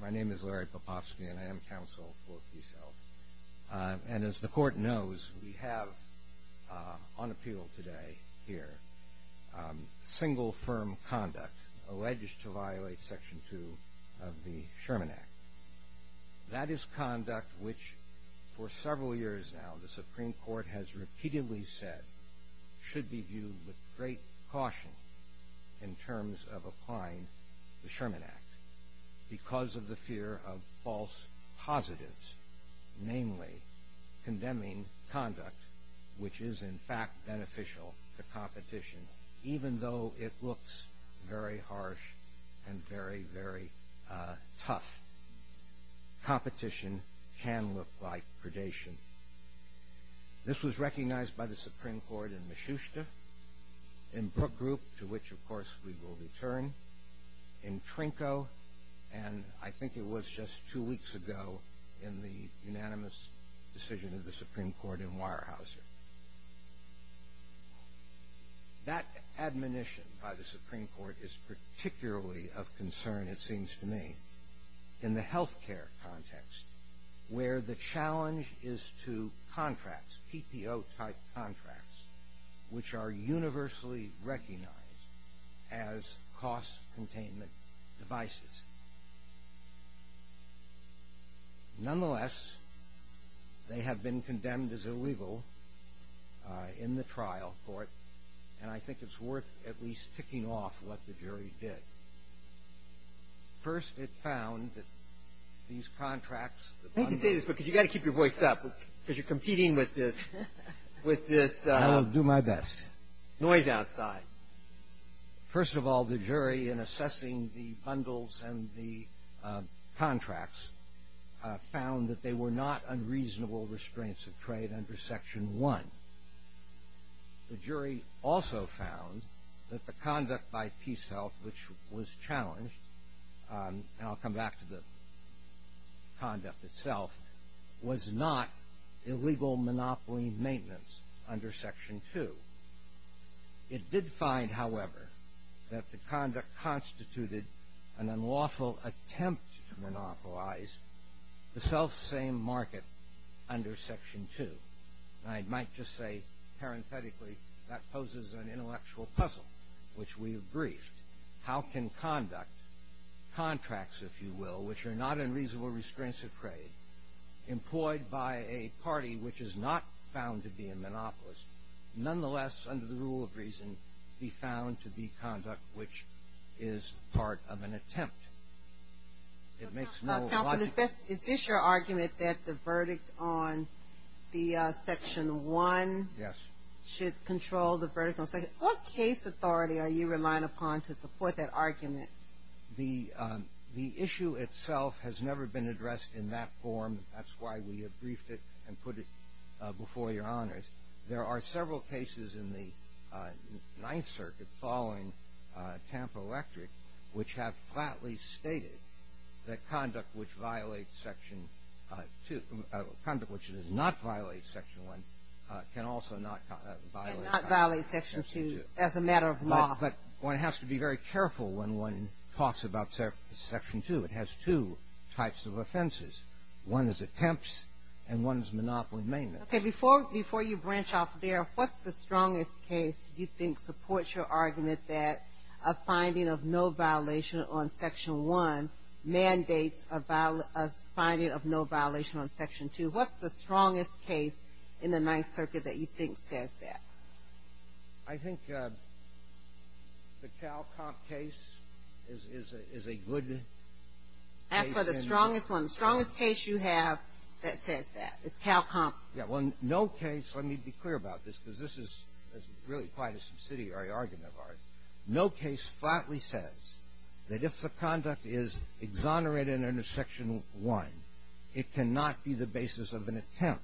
My name is Larry Popofsky, and I am counsel for PeaceHealth. And as the Court knows, we have on appeal today here single firm conduct alleged to violate Section 2 of the Sherman Act. That is conduct which, for several years now, the Supreme Court has repeatedly said should be viewed with great caution in terms of applying the Sherman Act because of the fear of false positives, namely condemning conduct which is in fact beneficial to competition, even though it looks very harsh and very, very tough. Competition can look like predation. This was recognized by the Supreme Court in Moschushta, in Brook Group, to which, of course, we will return, in Trinko, and I think it was just two weeks ago in the unanimous decision of the Supreme Court in Weyerhaeuser. That admonition by the Supreme Court is particularly of concern, it seems to me, in the health care context, where the challenge is to contracts, PPO-type contracts, which are universally recognized as cost-containment devices. Nonetheless, they have been condemned as illegal in the trial court, and I think it's worth at least ticking off what the jury did. First, it found that these contracts, the bundles. Breyer. Let me say this, because you've got to keep your voice up, because you're competing with this, with this noise outside. Breyer. I'll do my best. First of all, the jury, in assessing the bundles and the contracts, found that they were not unreasonable restraints of trade under Section 1. The jury also found that the conduct by PeaceHealth, which was challenged, and I'll come back to the conduct itself, was not illegal monopoly maintenance under Section 2. It did find, however, that the conduct constituted an unlawful attempt to monopolize the selfsame market under Section 2. And I might just say, parenthetically, that poses an intellectual puzzle, which we have briefed. How can conduct, contracts, if you will, which are not unreasonable restraints of trade employed by a party which is not found to be a monopolist, nonetheless, under the rule of reason, be found to be conduct which is part of an attempt? It makes no logic. Counsel, is this your argument that the verdict on the Section 1? Yes. Should control the verdict on Section 2? What case authority are you relying upon to support that argument? The issue itself has never been addressed in that form. That's why we have briefed it and put it before Your Honors. There are several cases in the Ninth Circuit following Tampa Electric, which have flatly stated that conduct which violates Section 2, conduct which does not violate Section 1, can also not violate Section 2. Can not violate Section 2 as a matter of law. But one has to be very careful when one talks about Section 2. It has two types of offenses. One is attempts, and one is monopoly maintenance. Okay. Before you branch off there, what's the strongest case you think supports your argument that a finding of no violation on Section 1 mandates a finding of no violation on Section 2? What's the strongest case in the Ninth Circuit that you think says that? I think the CalComp case is a good case. That's the strongest one. The strongest case you have that says that is CalComp. Well, no case, let me be clear about this, because this is really quite a subsidiary argument of ours. No case flatly says that if the conduct is exonerated under Section 1, it cannot be the basis of an attempt.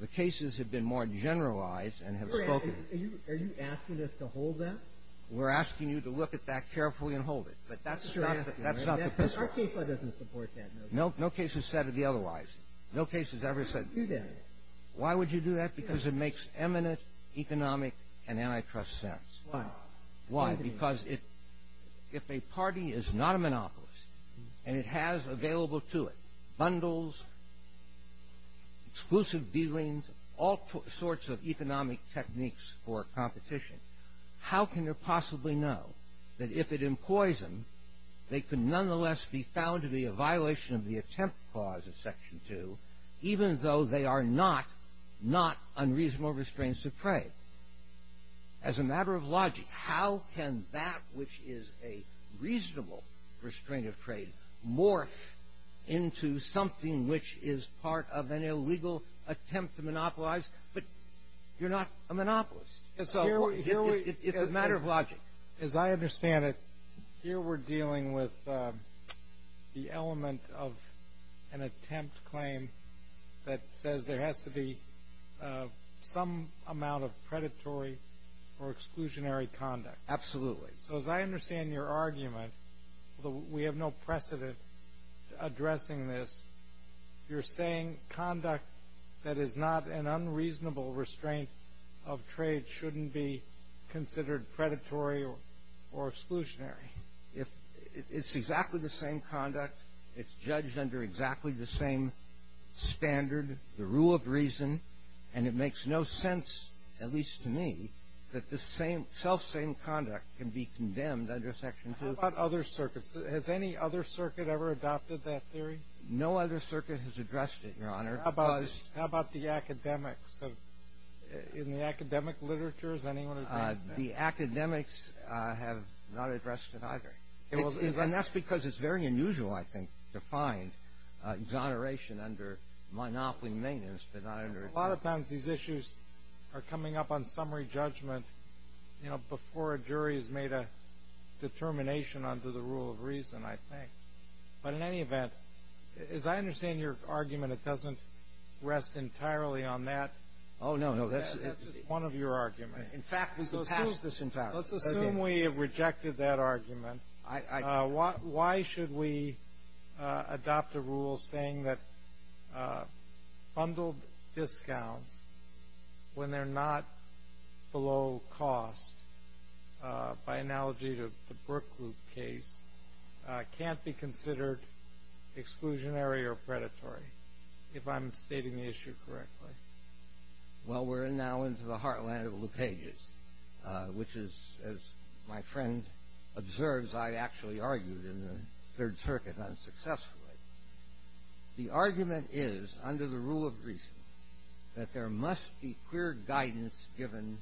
The cases have been more generalized and have spoken. Are you asking us to hold that? We're asking you to look at that carefully and hold it. But that's not the case. Our case doesn't support that. No case has said otherwise. No case has ever said otherwise. Why would you do that? Because it makes eminent economic and antitrust sense. Why? Why? Because if a party is not a monopolist and it has available to it bundles, exclusive dealings, all sorts of economic techniques for competition, how can they possibly know that if it employs them, they could nonetheless be found to be a violation of the attempt clause of Section 2, even though they are not unreasonable restraints of trade? As a matter of logic, how can that which is a reasonable restraint of trade morph into something which is part of an illegal attempt to monopolize? But you're not a monopolist. It's a matter of logic. As I understand it, here we're dealing with the element of an attempt claim that says there has to be some amount of predatory or exclusionary conduct. Absolutely. So as I understand your argument, although we have no precedent addressing this, you're saying conduct that is not an unreasonable restraint of trade shouldn't be considered predatory or exclusionary. It's exactly the same conduct. It's judged under exactly the same standard, the rule of reason. And it makes no sense, at least to me, that the selfsame conduct can be condemned under Section 2. How about other circuits? Has any other circuit ever adopted that theory? No other circuit has addressed it, Your Honor. How about the academics? In the academic literature, has anyone addressed that? The academics have not addressed it either. And that's because it's very unusual, I think, to find exoneration under monopoly maintenance but not under a jury. A lot of times these issues are coming up on summary judgment, you know, before a jury has made a determination under the rule of reason, I think. But in any event, as I understand your argument, it doesn't rest entirely on that. Oh, no, no. That's just one of your arguments. In fact, we could pass this entirely. Let's assume we have rejected that argument. Why should we adopt a rule saying that bundled discounts, when they're not below cost, by analogy to the Brook Group case, can't be considered exclusionary or predatory, if I'm stating the issue correctly? Well, we're now into the heartland of LePage's, which is, as my friend observes, I actually argued in the Third Circuit unsuccessfully. The argument is, under the rule of reason, that there must be clear guidance given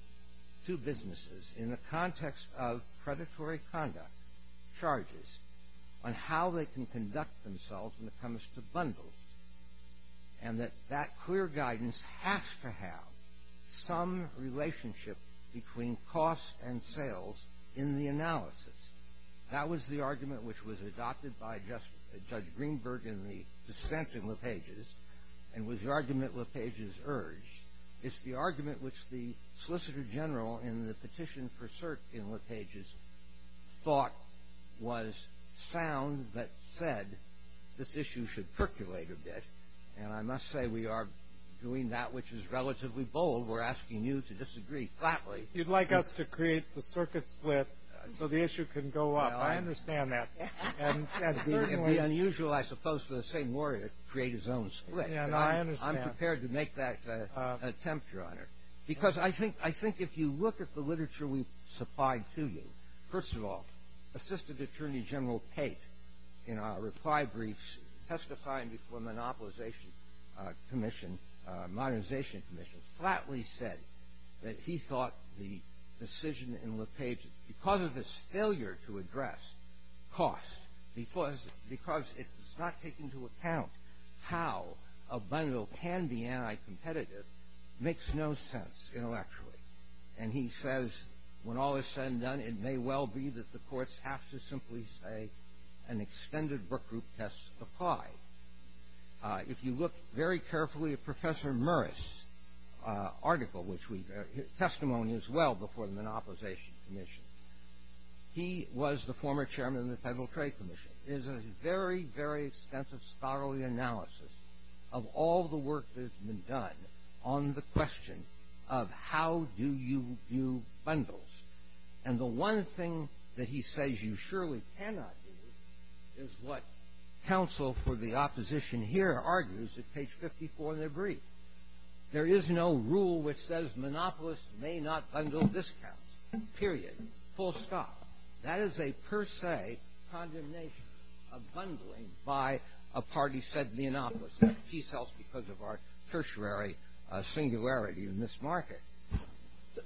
to businesses in the context of predatory conduct charges on how they can conduct themselves when it comes to bundles. And that that clear guidance has to have some relationship between cost and sales in the analysis. That was the argument which was adopted by Judge Greenberg in the dissent in LePage's and was the argument LePage's urged. It's the argument which the Solicitor General, in the petition for cert in LePage's, thought was sound but said this issue should percolate a bit. And I must say, we are doing that which is relatively bold. We're asking you to disagree flatly. You'd like us to create the circuit split so the issue can go up. I understand that. It would be unusual, I suppose, for the same lawyer to create his own split. I'm prepared to make that attempt, Your Honor. Because I think if you look at the literature we've supplied to you, first of all, Assistant Attorney General Pate, in our reply briefs testifying before the Monopolization Commission, Modernization Commission, flatly said that he thought the decision in LePage's, because of his failure to address cost, because it does not take into account how a bundle can be anti-competitive, makes no sense intellectually. And he says, when all is said and done, it may well be that the courts have to simply say an extended book group test applied. If you look very carefully at Professor Morris' article, which we testimony as well before the Monopolization Commission, he was the former chairman of the Federal Trade Commission. It is a very, very extensive, thoroughly analysis of all the work that has been done on the question of how do you view bundles. And the one thing that he says you surely cannot do is what counsel for the opposition here argues at page 54 in their brief. There is no rule which says monopolists may not bundle discounts, period. Full stop. That is a per se condemnation of bundling by a party said monopolist. Peace helps because of our tertiary singularity in this market.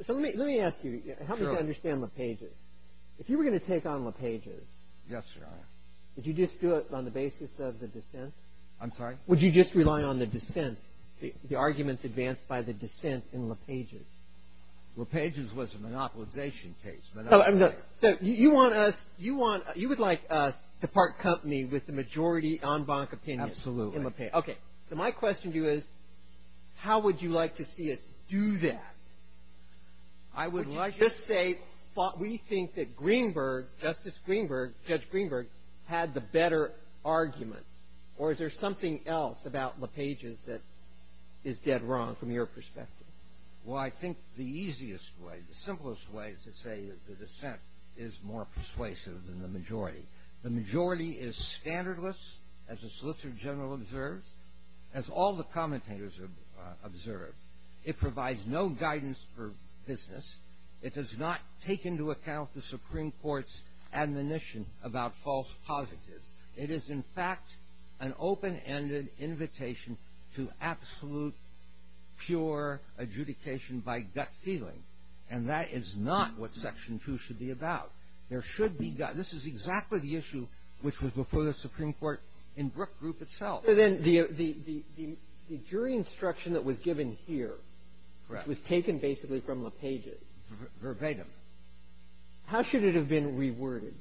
So let me ask you, how do you understand LePage's? If you were going to take on LePage's. Yes, Your Honor. Would you just do it on the basis of the dissent? I'm sorry? Would you just rely on the dissent, the arguments advanced by the dissent in LePage's? LePage's was a monopolization case. So you want us, you would like us to part company with the majority en banc opinion. Absolutely. Okay. So my question to you is how would you like to see us do that? Would you just say we think that Greenberg, Justice Greenberg, Judge Greenberg, had the better argument? Or is there something else about LePage's that is dead wrong from your perspective? Well, I think the easiest way, the simplest way is to say the dissent is more persuasive than the majority. The majority is standardless, as the Solicitor General observes, as all the commentators observe. It provides no guidance for business. It does not take into account the Supreme Court's admonition about false positives. It is, in fact, an open-ended invitation to absolute, pure adjudication by gut feeling. And that is not what Section 2 should be about. There should be gut. This is exactly the issue which was before the Supreme Court in Brook Group itself. So then the jury instruction that was given here, which was taken basically from LePage's. Verbatim. How should it have been reworded?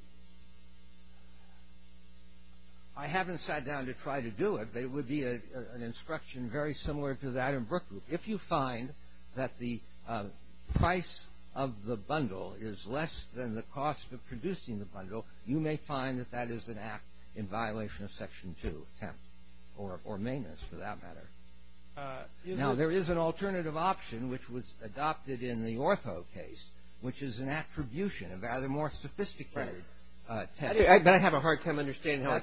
I haven't sat down to try to do it, but it would be an instruction very similar to that in Brook Group. If you find that the price of the bundle is less than the cost of producing the bundle, you may find that that is an act in violation of Section 2, or maintenance for that matter. Now, there is an alternative option which was adopted in the Ortho case, which is an attribution of rather more sophisticated text. But I have a hard time understanding how a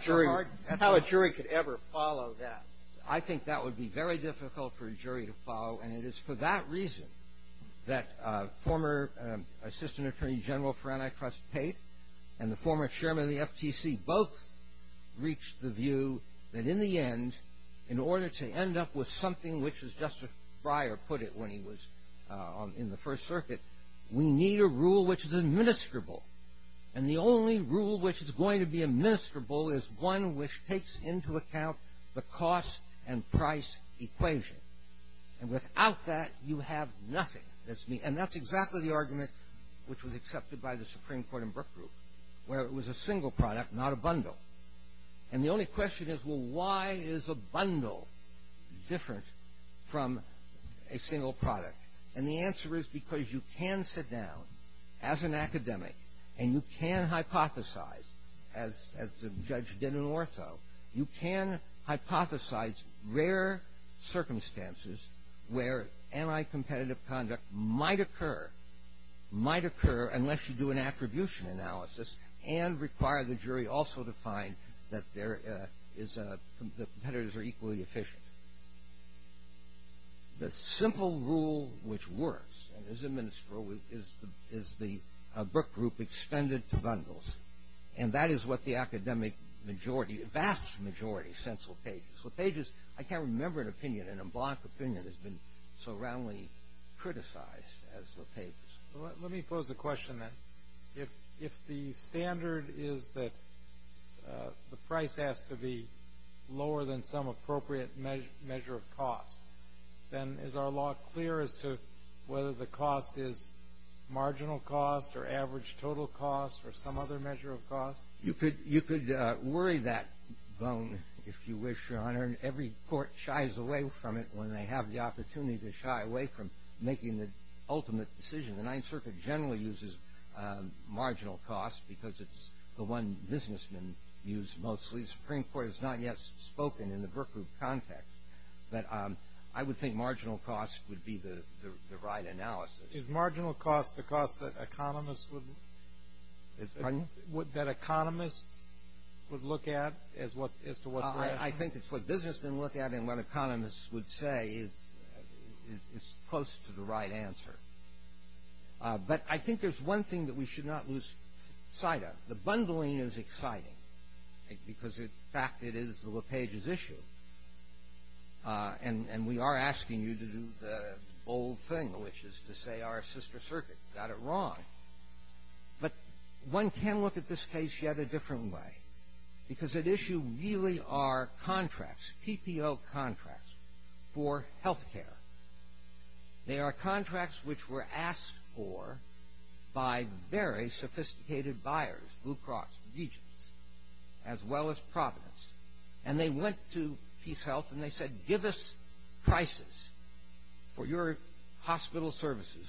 jury could ever follow that. I think that would be very difficult for a jury to follow, and it is for that reason that former Assistant Attorney General for Antitrust Tate and the former chairman of the FTC both reached the view that in the end, in order to end up with something which, as Justice Breyer put it when he was in the First Circuit, we need a rule which is administrable. And the only rule which is going to be administrable is one which takes into account the cost and price equation. And without that, you have nothing. And that's exactly the argument which was accepted by the Supreme Court in Brook Group, where it was a single product, not a bundle. And the only question is, well, why is a bundle different from a single product? And the answer is because you can sit down as an academic and you can hypothesize, as the judge did in Ortho, you can hypothesize rare circumstances where anti-competitive conduct might occur, might occur unless you do an attribution analysis and require the jury also to find that there is a – the competitors are equally efficient. The simple rule which works and is administrable is the Brook Group extended to bundles. And that is what the academic majority – vast majority – sense LePage. LePage is – I can't remember an opinion, and a block opinion has been so roundly criticized as LePage's. Let me pose a question then. If the standard is that the price has to be lower than some appropriate measure of cost, then is our law clear as to whether the cost is marginal cost or average total cost or some other measure of cost? You could – you could worry that bone, if you wish, Your Honor, and every court shies away from it when they have the opportunity to shy away from making the ultimate decision. The Ninth Circuit generally uses marginal cost because it's the one businessmen use mostly. The Supreme Court has not yet spoken in the Brook Group context. But I would think marginal cost would be the right analysis. Is marginal cost the cost that economists would – Pardon? That economists would look at as to what's rational? I think it's what businessmen look at and what economists would say is close to the right answer. But I think there's one thing that we should not lose sight of. The bundling is exciting because, in fact, it is LePage's issue. And we are asking you to do the old thing, which is to say our sister circuit got it wrong. But one can look at this case yet a different way because at issue really are contracts, PPO contracts, for health care. They are contracts which were asked for by very sophisticated buyers, Blue Cross, Regents, as well as Providence. And they went to PeaceHealth and they said, Give us prices for your hospital services,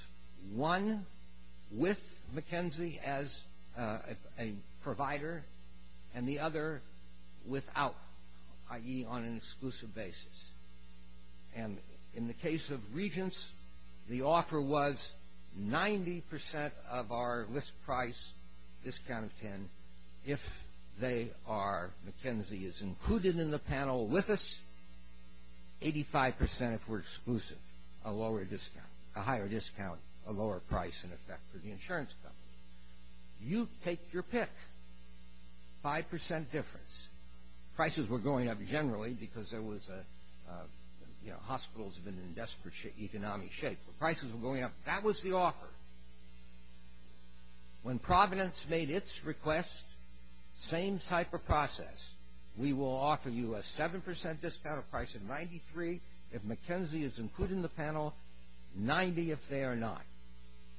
one with McKenzie as a provider and the other without, i.e., on an exclusive basis. And in the case of Regents, the offer was 90% of our list price, discount of 10 if McKenzie is included in the panel with us, 85% if we're exclusive, a higher discount, a lower price in effect for the insurance company. You take your pick, 5% difference. Prices were going up generally because hospitals have been in desperate economic shape. Prices were going up. That was the offer. When Providence made its request, same type of process. We will offer you a 7% discount of price at 93 if McKenzie is included in the panel, 90 if they are not,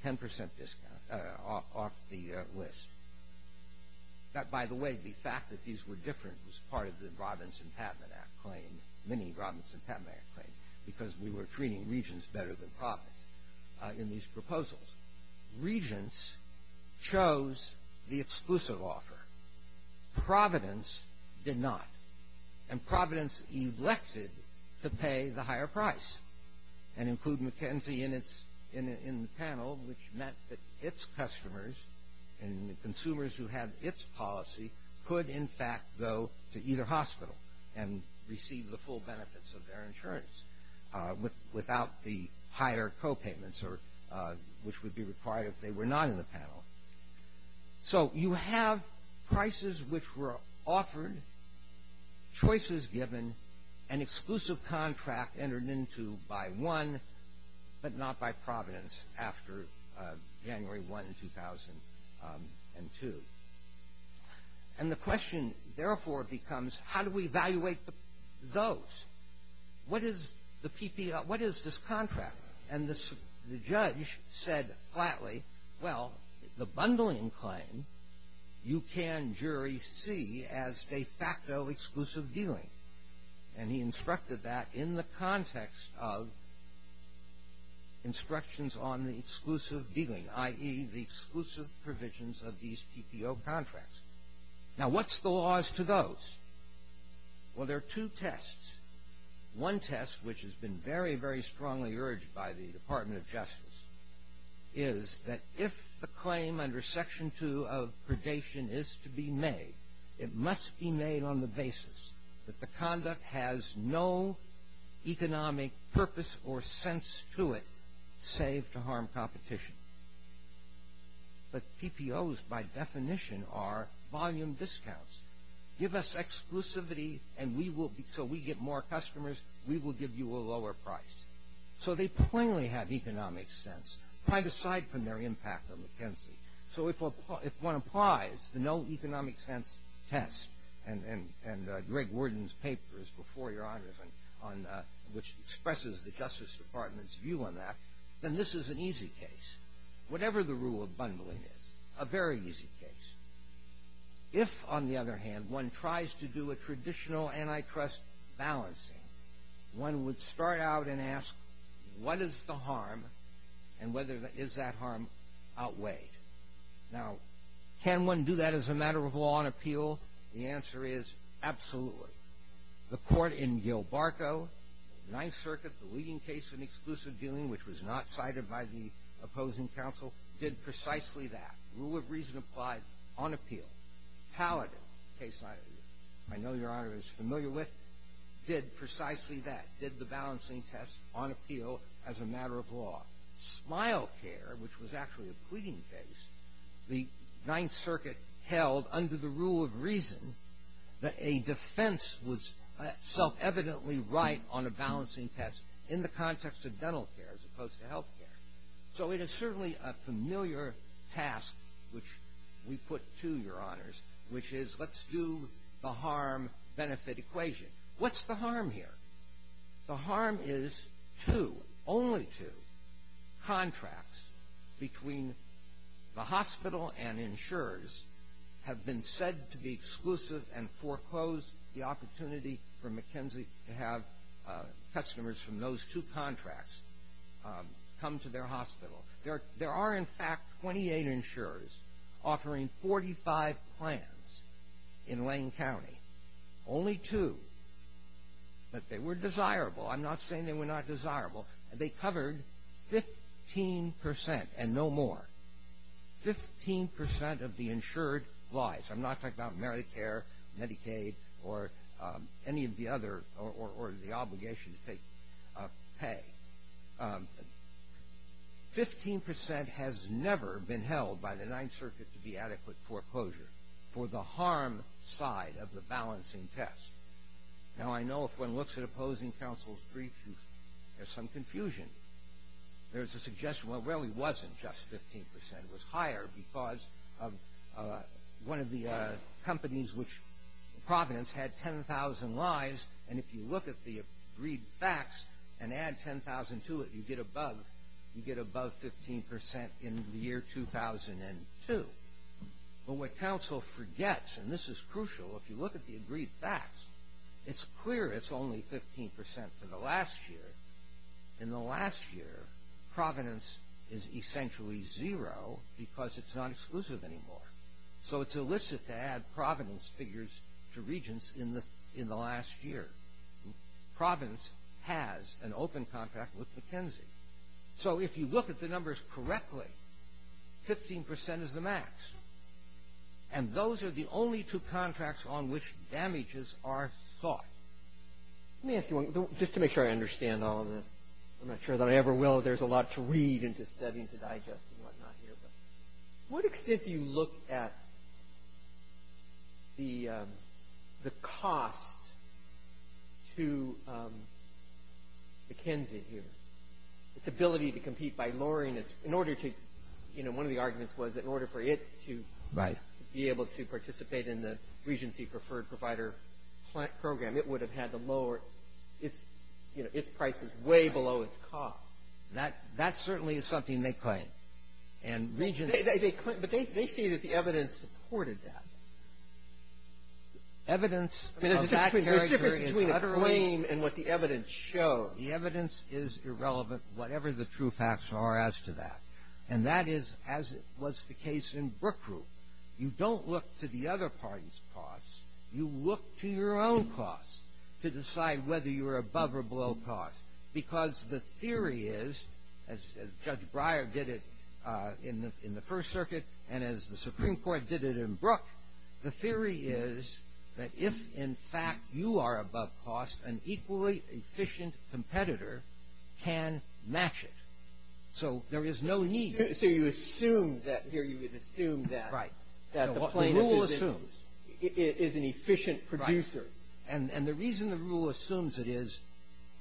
10% discount off the list. By the way, the fact that these were different was part of the Robinson-Patman Act claim, many Robinson-Patman Act claims, because we were treating Regents better than Providents in these proposals. Regents chose the exclusive offer. Providence did not. And Providence elected to pay the higher price and include McKenzie in the panel, which meant that its customers and the consumers who had its policy could, in fact, go to either hospital and receive the full benefits of their insurance without the higher copayments, which would be required if they were not in the panel. So you have prices which were offered, choices given, an exclusive contract entered into by one but not by Providence after January 1, 2002. And the question, therefore, becomes how do we evaluate those? What is the PPL? What is this contract? And the judge said flatly, well, the bundling claim you can, jury, see as de facto exclusive dealing. And he instructed that in the context of instructions on the exclusive dealing, i.e., the exclusive provisions of these PPO contracts. Now, what's the laws to those? Well, there are two tests. One test, which has been very, very strongly urged by the Department of Justice, is that if the claim under Section 2 of predation is to be made, it must be made on the basis that the conduct has no economic purpose or sense to it, save to harm competition. But PPOs, by definition, are volume discounts. Give us exclusivity so we get more customers, we will give you a lower price. So they plainly have economic sense, right aside from their impact on McKinsey. So if one applies the no economic sense test, and Greg Worden's paper is before your honors, which expresses the Justice Department's view on that, then this is an easy case. Whatever the rule of bundling is, a very easy case. If, on the other hand, one tries to do a traditional antitrust balancing, one would start out and ask, what is the harm, and is that harm outweighed? Now, can one do that as a matter of law on appeal? The answer is absolutely. The court in Gilbarco, Ninth Circuit, the leading case in exclusive dealing, which was not cited by the opposing counsel, did precisely that. Rule of reason applied on appeal. Paladin, a case I know your honor is familiar with, did precisely that. Did the balancing test on appeal as a matter of law. Smile Care, which was actually a pleading case, the Ninth Circuit held under the rule of reason that a defense was self-evidently right on a balancing test in the context of dental care as opposed to health care. So it is certainly a familiar task, which we put to your honors, which is let's do the harm-benefit equation. What's the harm here? The harm is two, only two, contracts between the hospital and insurers have been said to be exclusive and foreclosed the opportunity for McKenzie to have customers from those two contracts come to their hospital. There are, in fact, 28 insurers offering 45 plans in Lane County. Only two, but they were desirable. I'm not saying they were not desirable. They covered 15 percent and no more. Fifteen percent of the insured lies. I'm not talking about Medicare, Medicaid, or any of the other, or the obligation to pay. Fifteen percent has never been held by the Ninth Circuit to be adequate foreclosure for the harm side of the balancing test. Now I know if one looks at opposing counsel's brief, there's some confusion. There's a suggestion, well, it really wasn't just 15 percent. It was higher because one of the companies, Providence, had 10,000 lies, and if you look at the agreed facts and add 10,000 to it, you get above 15 percent in the year 2002. But what counsel forgets, and this is crucial, if you look at the agreed facts, it's clear it's only 15 percent to the last year. In the last year, Providence is essentially zero because it's not exclusive anymore. So it's illicit to add Providence figures to Regents in the last year. Providence has an open contract with McKenzie. So if you look at the numbers correctly, 15 percent is the max, and those are the only two contracts on which damages are sought. Let me ask you one, just to make sure I understand all of this. I'm not sure that I ever will if there's a lot to read and to study and to digest and whatnot here, but what extent do you look at the cost to McKenzie here, its ability to compete by lowering its – in order to – you know, one of the arguments was that in order for it to be able to participate in the Regency preferred provider program, it would have had to lower its – you know, its prices way below its cost. That – that certainly is something they claim. And Regents – They claim – but they see that the evidence supported that. Evidence of that character is utterly – I mean, there's a difference between the claim and what the evidence shows. The evidence is irrelevant, whatever the true facts are as to that. And that is as was the case in Brook Group. You don't look to the other party's costs. You look to your own costs to decide whether you're above or below cost because the theory is, as Judge Breyer did it in the – in the First Circuit and as the Supreme Court did it in Brook, the theory is that if, in fact, you are above cost, an equally efficient competitor can match it. So there is no need – So you assume that – here you would assume that – Right. That the plaintiff is – The rule assumes. Is an efficient producer. Right. And the reason the rule assumes it is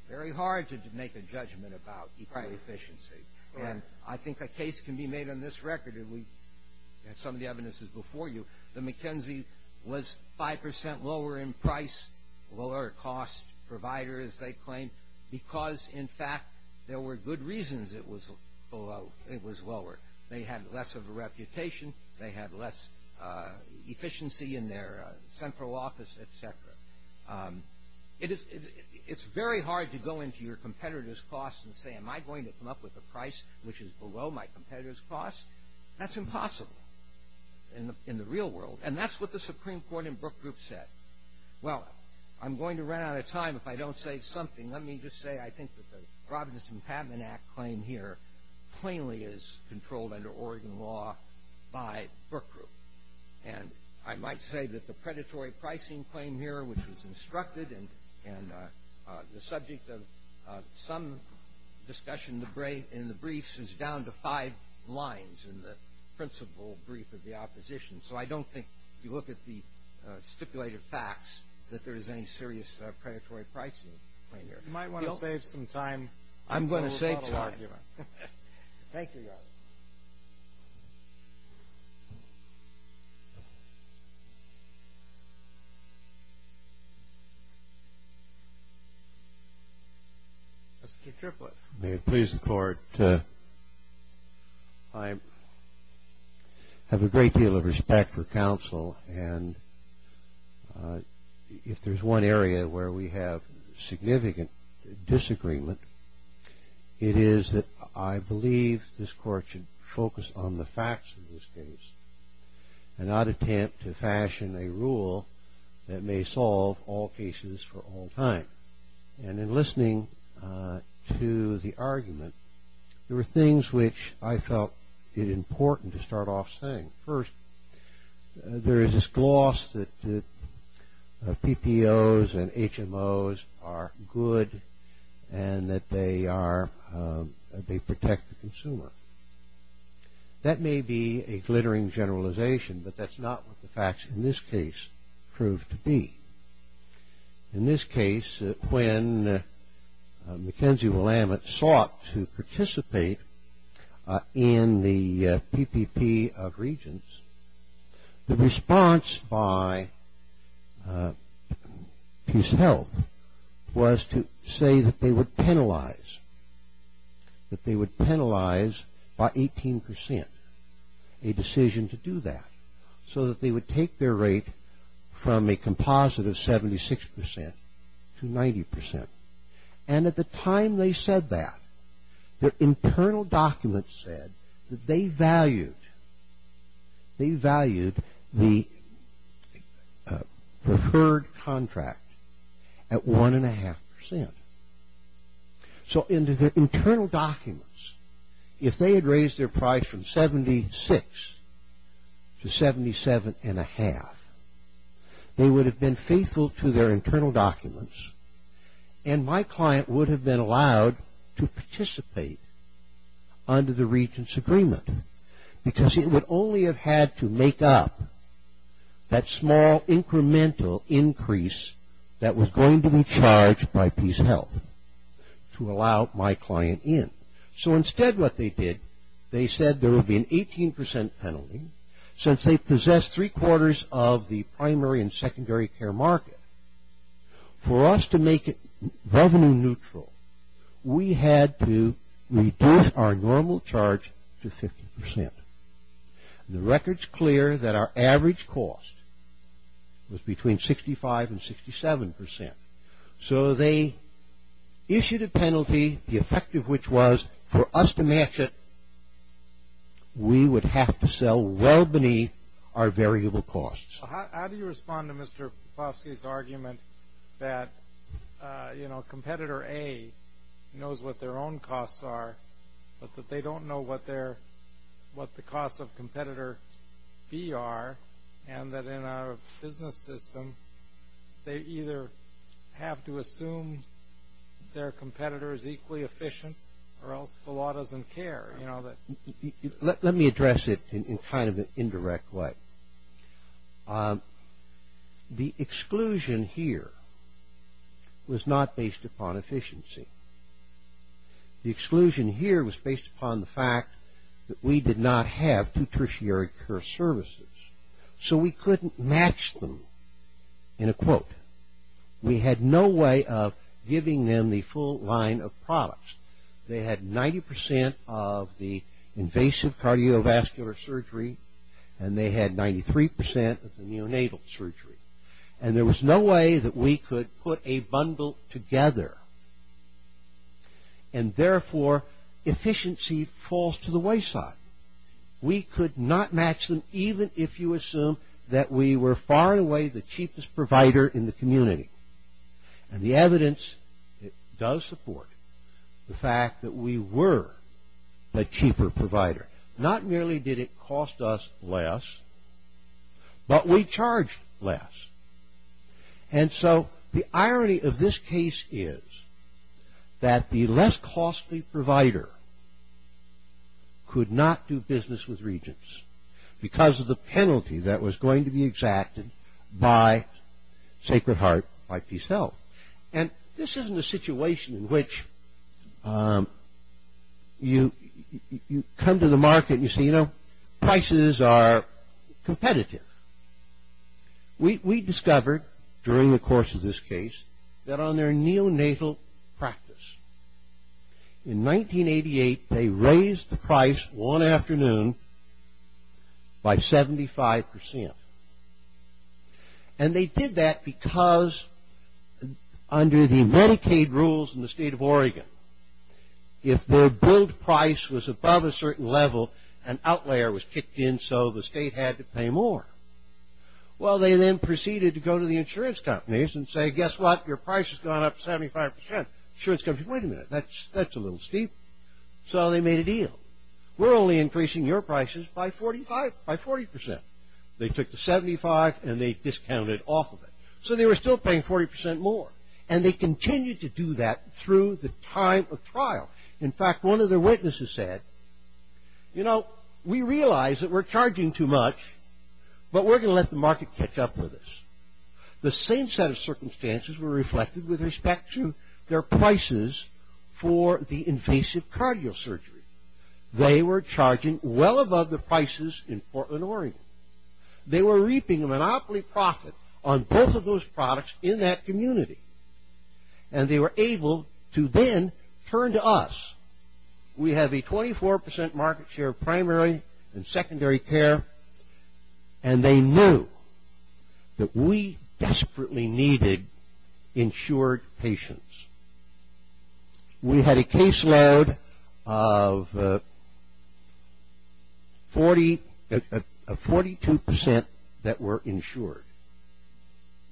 very hard to make a judgment about equal efficiency. Right. And I think a case can be made on this record, and we had some of the evidences before you, that McKenzie was 5 percent lower in price, lower cost provider, as they claim, because, in fact, there were good reasons it was below – it was lower. They had less of a reputation. They had less efficiency in their central office, et cetera. It is – it's very hard to go into your competitor's costs and say, am I going to come up with a price which is below my competitor's cost? That's impossible in the real world. And that's what the Supreme Court in Brook Group said. Well, I'm going to run out of time. If I don't say something, let me just say I think that the Providence Impadman Act claim here plainly is controlled under Oregon law by Brook Group. And I might say that the predatory pricing claim here, which was instructed, and the subject of some discussion in the briefs is down to five lines in the principal brief of the opposition. So I don't think if you look at the stipulated facts that there is any serious predatory pricing claim here. You might want to save some time. I'm going to save some time. Thank you, Your Honor. Mr. Triplett. May it please the Court, I have a great deal of respect for counsel. And if there's one area where we have significant disagreement, it is that I believe this Court should focus on the facts of this case and not attempt to fashion a rule that may solve all cases for all time. And in listening to the argument, there were things which I felt it important to start off saying. First, there is this gloss that PPOs and HMOs are good and that they protect the consumer. That may be a glittering generalization, but that's not what the facts in this case prove to be. In this case, when Mackenzie Willamette sought to participate in the PPP of Regents, the response by PeaceHealth was to say that they would penalize, that they would penalize by 18 percent a decision to do that, so that they would take their rate from a composite of 76 percent to 90 percent. And at the time they said that, their internal documents said that they valued the preferred contract at 1.5 percent. So into their internal documents, if they had raised their price from 76 to 77.5, they would have been faithful to their internal documents and my client would have been allowed to participate under the Regents' agreement because he would only have had to make up that small incremental increase that was going to be charged by PeaceHealth to allow my client in. So instead what they did, they said there would be an 18 percent penalty since they possessed three quarters of the primary and secondary care market. For us to make it revenue neutral, we had to reduce our normal charge to 50 percent. The record's clear that our average cost was between 65 and 67 percent. So they issued a penalty, the effect of which was for us to match it, we would have to sell well beneath our variable costs. How do you respond to Mr. Plosky's argument that, you know, the cost of competitor B are and that in our business system, they either have to assume their competitor is equally efficient or else the law doesn't care? Let me address it in kind of an indirect way. The exclusion here was not based upon efficiency. The exclusion here was based upon the fact that we did not have two tertiary care services. So we couldn't match them in a quote. We had no way of giving them the full line of products. They had 90 percent of the invasive cardiovascular surgery and they had 93 percent of the neonatal surgery. And there was no way that we could put a bundle together. And therefore, efficiency falls to the wayside. We could not match them even if you assume that we were far and away the cheapest provider in the community. And the evidence does support the fact that we were a cheaper provider. Not merely did it cost us less, but we charged less. And so the irony of this case is that the less costly provider could not do business with regents because of the penalty that was going to be exacted by Sacred Heart, by PeaceHealth. And this isn't a situation in which you come to the market and you say, you know, prices are competitive. We discovered during the course of this case that on their neonatal practice, in 1988 they raised the price one afternoon by 75 percent. And they did that because under the Medicaid rules in the state of Oregon, if their billed price was above a certain level, an outlier was kicked in so the state had to pay more. Well, they then proceeded to go to the insurance companies and say, guess what? Your price has gone up 75 percent. Insurance companies, wait a minute, that's a little steep. So they made a deal. We're only increasing your prices by 45, by 40 percent. They took the 75 and they discounted off of it. So they were still paying 40 percent more. And they continued to do that through the time of trial. In fact, one of their witnesses said, you know, we realize that we're charging too much, but we're going to let the market catch up with us. The same set of circumstances were reflected with respect to their prices for the invasive cardiosurgery. They were charging well above the prices in Portland, Oregon. They were reaping a monopoly profit on both of those products in that community. And they were able to then turn to us. We have a 24 percent market share of primary and secondary care. And they knew that we desperately needed insured patients. We had a caseload of 42 percent that were insured.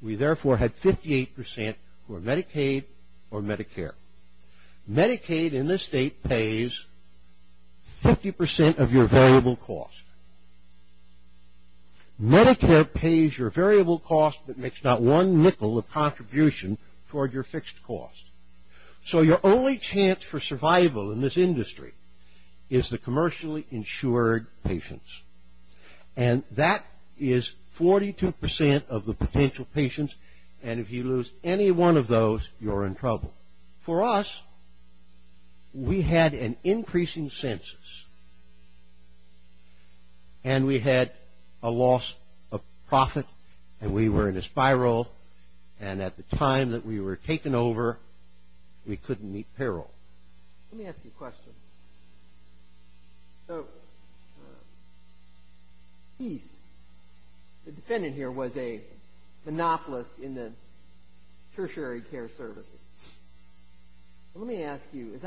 We therefore had 58 percent who are Medicaid or Medicare. Medicaid in this state pays 50 percent of your variable cost. Medicare pays your variable cost but makes not one nickel of contribution toward your fixed cost. So your only chance for survival in this industry is the commercially insured patients. And that is 42 percent of the potential patients. And if you lose any one of those, you're in trouble. For us, we had an increasing census. And we had a loss of profit. And we were in a spiral. And at the time that we were taken over, we couldn't meet peril. Let me ask you a question. So East, the defendant here, was a monopolist in the tertiary care services. Let me ask you,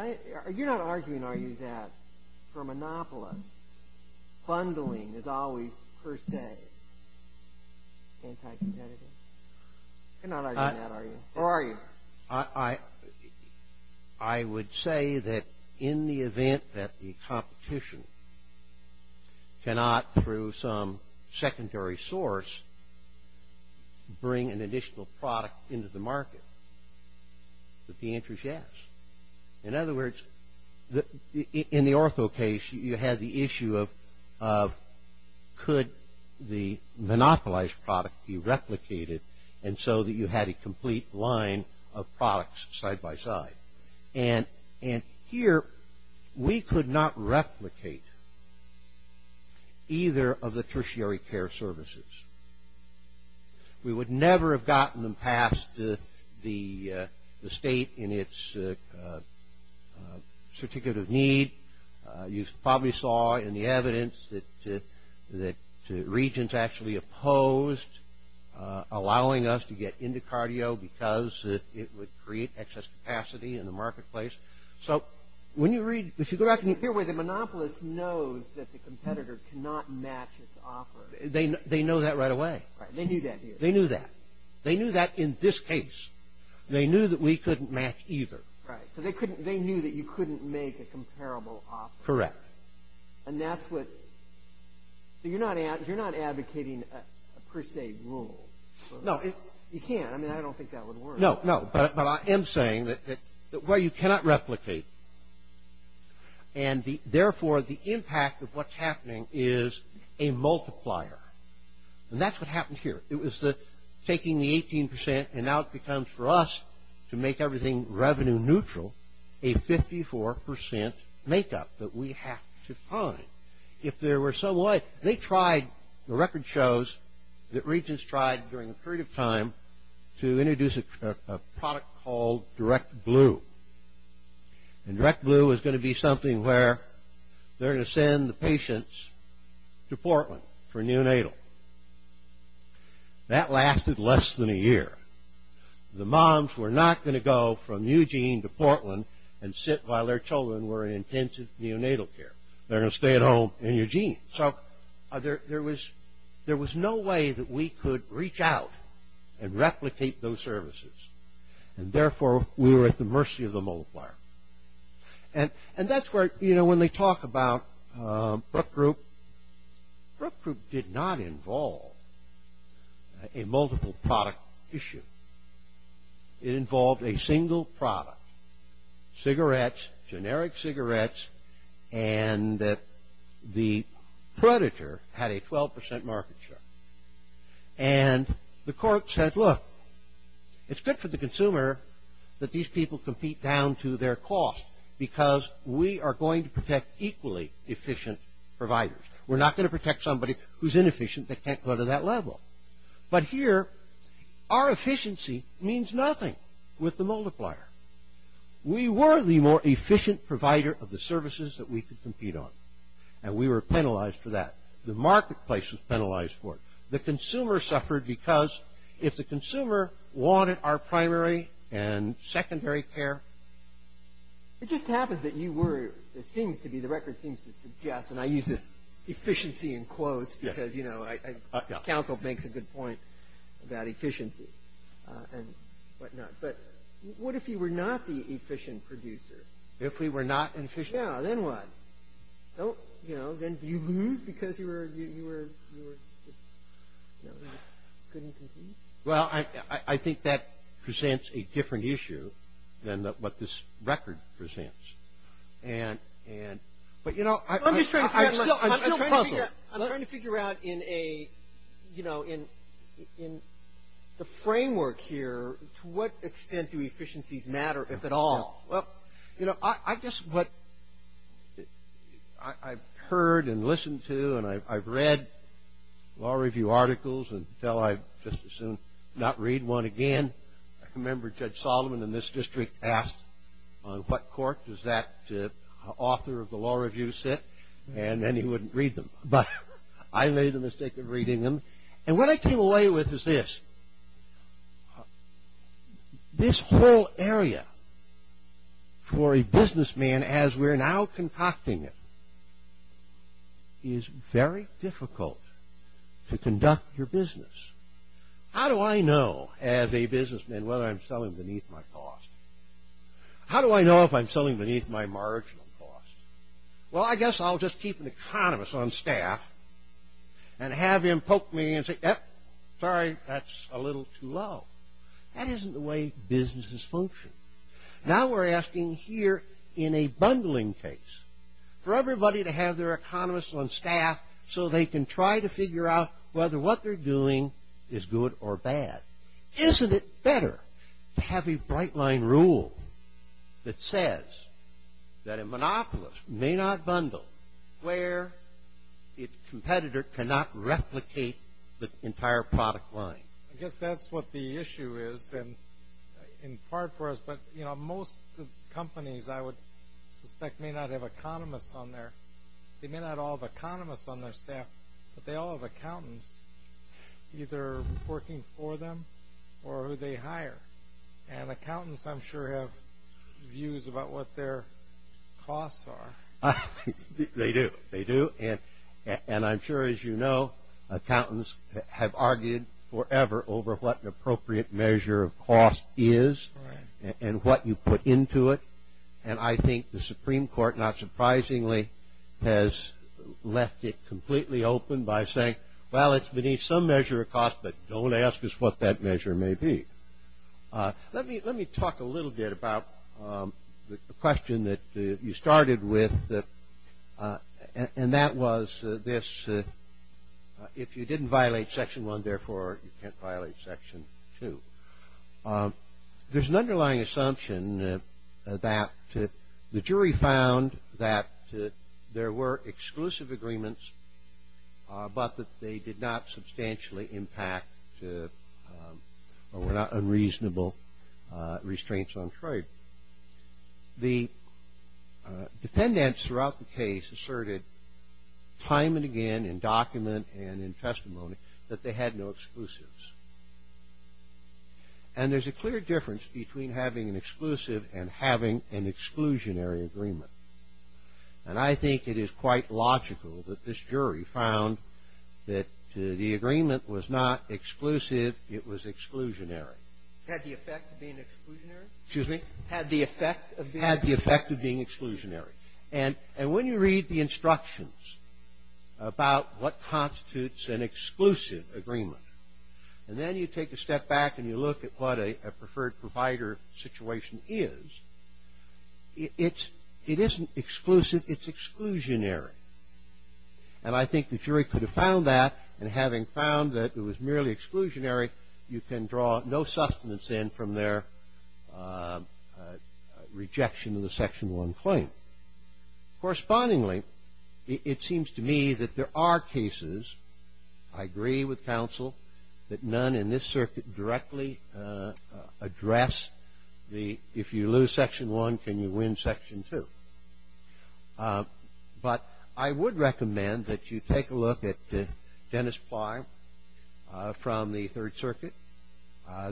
are you not arguing, are you, that for a monopolist, bundling is always per se anti-competitive? You're not arguing that, are you? Or are you? I would say that in the event that the competition cannot, through some secondary source, bring an additional product into the market, that the answer is yes. In other words, in the ortho case, you had the issue of could the monopolized product be replicated, and so that you had a complete line of products side by side. And here, we could not replicate either of the tertiary care services. We would never have gotten them passed to the state in its certificate of need. You probably saw in the evidence that regents actually opposed allowing us to get into cardio because it would create excess capacity in the marketplace. So when you read, if you go back and you hear where the monopolist knows that the competitor cannot match its offer. They know that right away. Right, they knew that. They knew that. They knew that in this case. They knew that we couldn't match either. Right, so they knew that you couldn't make a comparable offer. Correct. And that's what, so you're not advocating a per se rule. No. You can't. I mean, I don't think that would work. No, no, but I am saying that where you cannot replicate, and therefore the impact of what's happening is a multiplier. And that's what happened here. It was taking the 18% and now it becomes for us to make everything revenue neutral, a 54% make-up that we have to find. If there were some way, they tried, the record shows that regents tried during a period of time to introduce a product called direct glue. And direct glue is going to be something where they're going to send the patients to Portland for neonatal. That lasted less than a year. The moms were not going to go from Eugene to Portland and sit while their children were in intensive neonatal care. They're going to stay at home in Eugene. So there was no way that we could reach out and replicate those services. And therefore, we were at the mercy of the multiplier. And that's where, you know, when they talk about Brook Group, Brook Group did not involve a multiple product issue. It involved a single product, cigarettes, generic cigarettes, and the Predator had a 12% market share. And the court said, look, it's good for the consumer that these people compete down to their cost because we are going to protect equally efficient providers. We're not going to protect somebody who's inefficient that can't go to that level. But here, our efficiency means nothing with the multiplier. We were the more efficient provider of the services that we could compete on. And we were penalized for that. The marketplace was penalized for it. The consumer suffered because if the consumer wanted our primary and secondary care. It just happens that you were, it seems to be, the record seems to suggest, and I use this efficiency in quotes because, you know, counsel makes a good point about efficiency and whatnot. But what if you were not the efficient producer? If we were not efficient? Yeah, then what? You know, then do you lose because you couldn't compete? Well, I think that presents a different issue than what this record presents. But, you know, I'm still puzzled. I'm trying to figure out in a, you know, in the framework here, to what extent do efficiencies matter, if at all? Well, you know, I guess what I've heard and listened to and I've read law review articles until I just as soon not read one again. I remember Judge Solomon in this district asked, on what court does that author of the law review sit? And then he wouldn't read them. But I made the mistake of reading them. And what I came away with is this. This whole area for a businessman as we're now conducting it is very difficult to conduct your business. How do I know as a businessman whether I'm selling beneath my cost? How do I know if I'm selling beneath my marginal cost? Well, I guess I'll just keep an economist on staff and have him poke me and say, sorry, that's a little too low. That isn't the way businesses function. Now we're asking here in a bundling case for everybody to have their economist on staff so they can try to figure out whether what they're doing is good or bad. Isn't it better to have a bright line rule that says that a monopolist may not bundle where its competitor cannot replicate the entire product line? I guess that's what the issue is in part for us. But, you know, most companies I would suspect may not have economists on there. They may not all have economists on their staff, but they all have accountants either working for them or who they hire. And accountants, I'm sure, have views about what their costs are. They do. They do. And I'm sure, as you know, accountants have argued forever over what an appropriate measure of cost is and what you put into it. And I think the Supreme Court, not surprisingly, has left it completely open by saying, well, it's beneath some measure of cost, but don't ask us what that measure may be. Let me talk a little bit about the question that you started with, and that was this, if you didn't violate Section 1, therefore you can't violate Section 2. There's an underlying assumption that the jury found that there were exclusive agreements, but that they did not substantially impact or were not unreasonable restraints on trade. The defendants throughout the case asserted time and again in document and in testimony that they had no exclusives. And there's a clear difference between having an exclusive and having an exclusionary agreement. And I think it is quite logical that this jury found that the agreement was not exclusive, it was exclusionary. Had the effect of being exclusionary? Excuse me? Had the effect of being exclusionary. And when you read the instructions about what constitutes an exclusive agreement, and then you take a step back and you look at what a preferred provider situation is, it isn't exclusive, it's exclusionary. And I think the jury could have found that, and having found that it was merely exclusionary, you can draw no sustenance in from their rejection of the Section 1 claim. Correspondingly, it seems to me that there are cases, I agree with counsel, that none in this circuit directly address the if you lose Section 1, can you win Section 2. But I would recommend that you take a look at Dennis Plyer from the Third Circuit.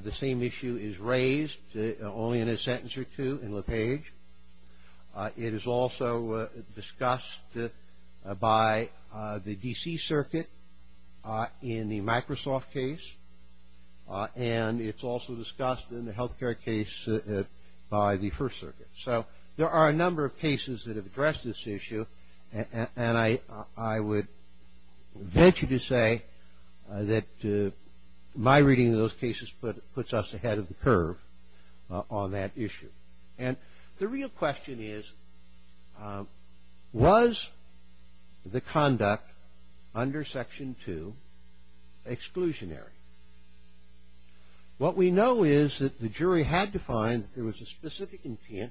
The same issue is raised only in a sentence or two in LaPage. It is also discussed by the D.C. Circuit in the Microsoft case, and it's also discussed in the healthcare case by the First Circuit. So there are a number of cases that have addressed this issue, and I would venture to say that my reading of those cases puts us ahead of the curve on that issue. And the real question is, was the conduct under Section 2 exclusionary? What we know is that the jury had to find that there was a specific intent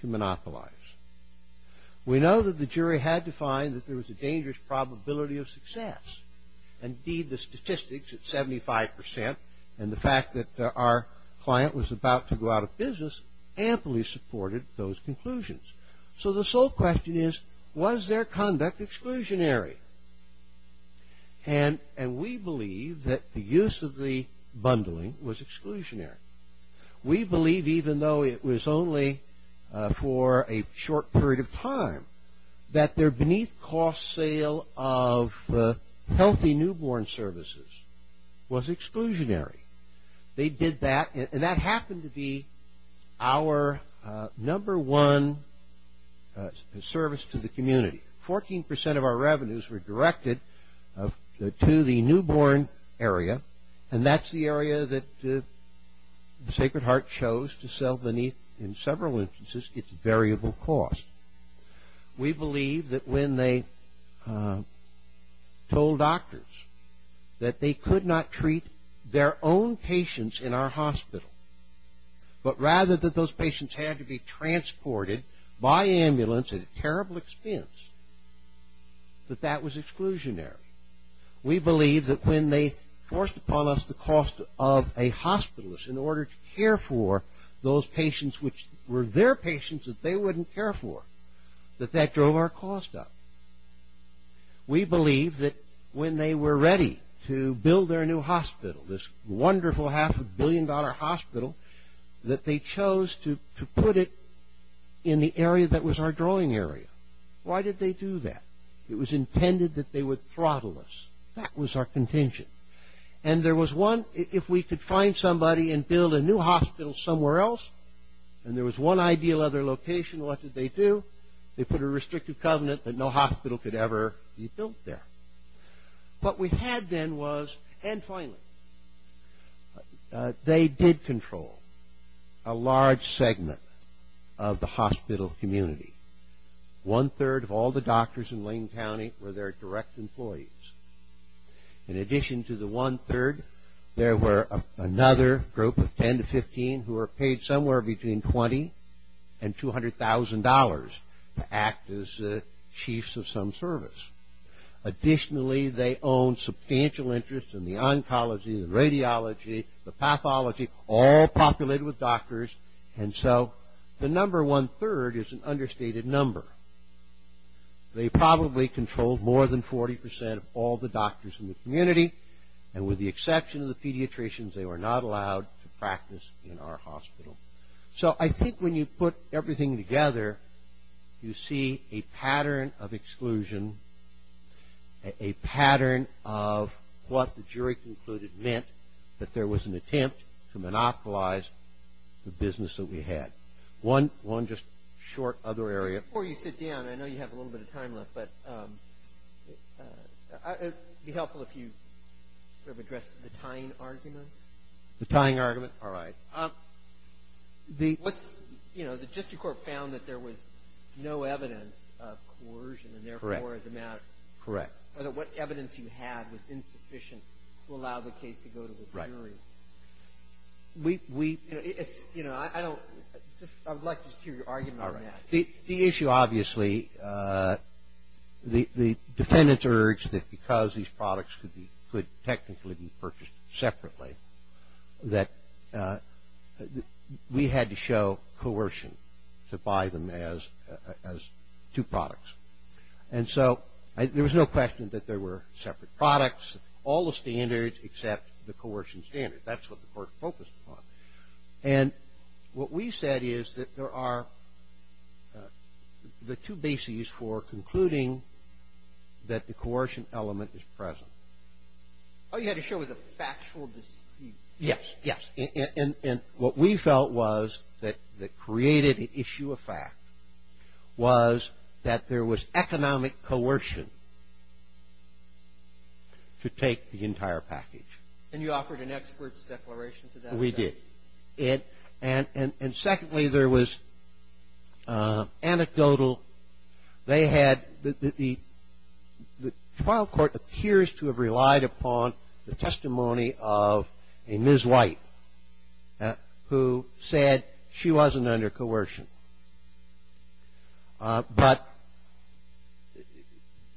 to monopolize. We know that the jury had to find that there was a dangerous probability of success. Indeed, the statistics at 75% and the fact that our client was about to go out of business amply supported those conclusions. So the sole question is, was their conduct exclusionary? And we believe that the use of the bundling was exclusionary. We believe, even though it was only for a short period of time, that their beneath-cost sale of healthy newborn services was exclusionary. They did that, and that happened to be our number one service to the community. Only 14% of our revenues were directed to the newborn area, and that's the area that Sacred Heart chose to sell beneath, in several instances, its variable cost. We believe that when they told doctors that they could not treat their own patients in our hospital, but rather that those patients had to be transported by ambulance at a terrible expense, that that was exclusionary. We believe that when they forced upon us the cost of a hospitalist in order to care for those patients which were their patients that they wouldn't care for, that that drove our cost up. We believe that when they were ready to build their new hospital, this wonderful half-a-billion-dollar hospital, that they chose to put it in the area that was our drawing area. Why did they do that? It was intended that they would throttle us. That was our contingent. And there was one, if we could find somebody and build a new hospital somewhere else, and there was one ideal other location, what did they do? They put a restrictive covenant that no hospital could ever be built there. What we had then was, and finally, they did control a large segment of the hospital community. One-third of all the doctors in Lane County were their direct employees. In addition to the one-third, there were another group of 10 to 15 who were paid somewhere between $20,000 and $200,000 to act as chiefs of some service. Additionally, they owned substantial interest in the oncology, the radiology, the pathology, all populated with doctors, and so the number one-third is an understated number. They probably controlled more than 40 percent of all the doctors in the community, and with the exception of the pediatricians, they were not allowed to practice in our hospital. So I think when you put everything together, you see a pattern of exclusion, a pattern of what the jury concluded meant that there was an attempt to monopolize the business that we had. One just short other area. Before you sit down, I know you have a little bit of time left, but it would be helpful if you sort of addressed the tying argument. The tying argument? All right. What's, you know, the district court found that there was no evidence of coercion, and therefore, as a matter of fact. Correct. What evidence you had was insufficient to allow the case to go to the jury. Right. We, you know, I don't, I would like to hear your argument on that. The issue, obviously, the defendants urged that because these products could be, could technically be purchased separately, that we had to show coercion to buy them as two products. And so there was no question that there were separate products, all the standards except the coercion standard. That's what the court focused upon. And what we said is that there are the two bases for concluding that the coercion element is present. All you had to show was a factual dispute. Yes. Yes. And what we felt was that the creative issue of fact was that there was economic coercion to take the entire package. And you offered an expert's declaration to that effect? We did. And secondly, there was anecdotal. They had, the trial court appears to have relied upon the testimony of a Ms. White who said she wasn't under coercion. But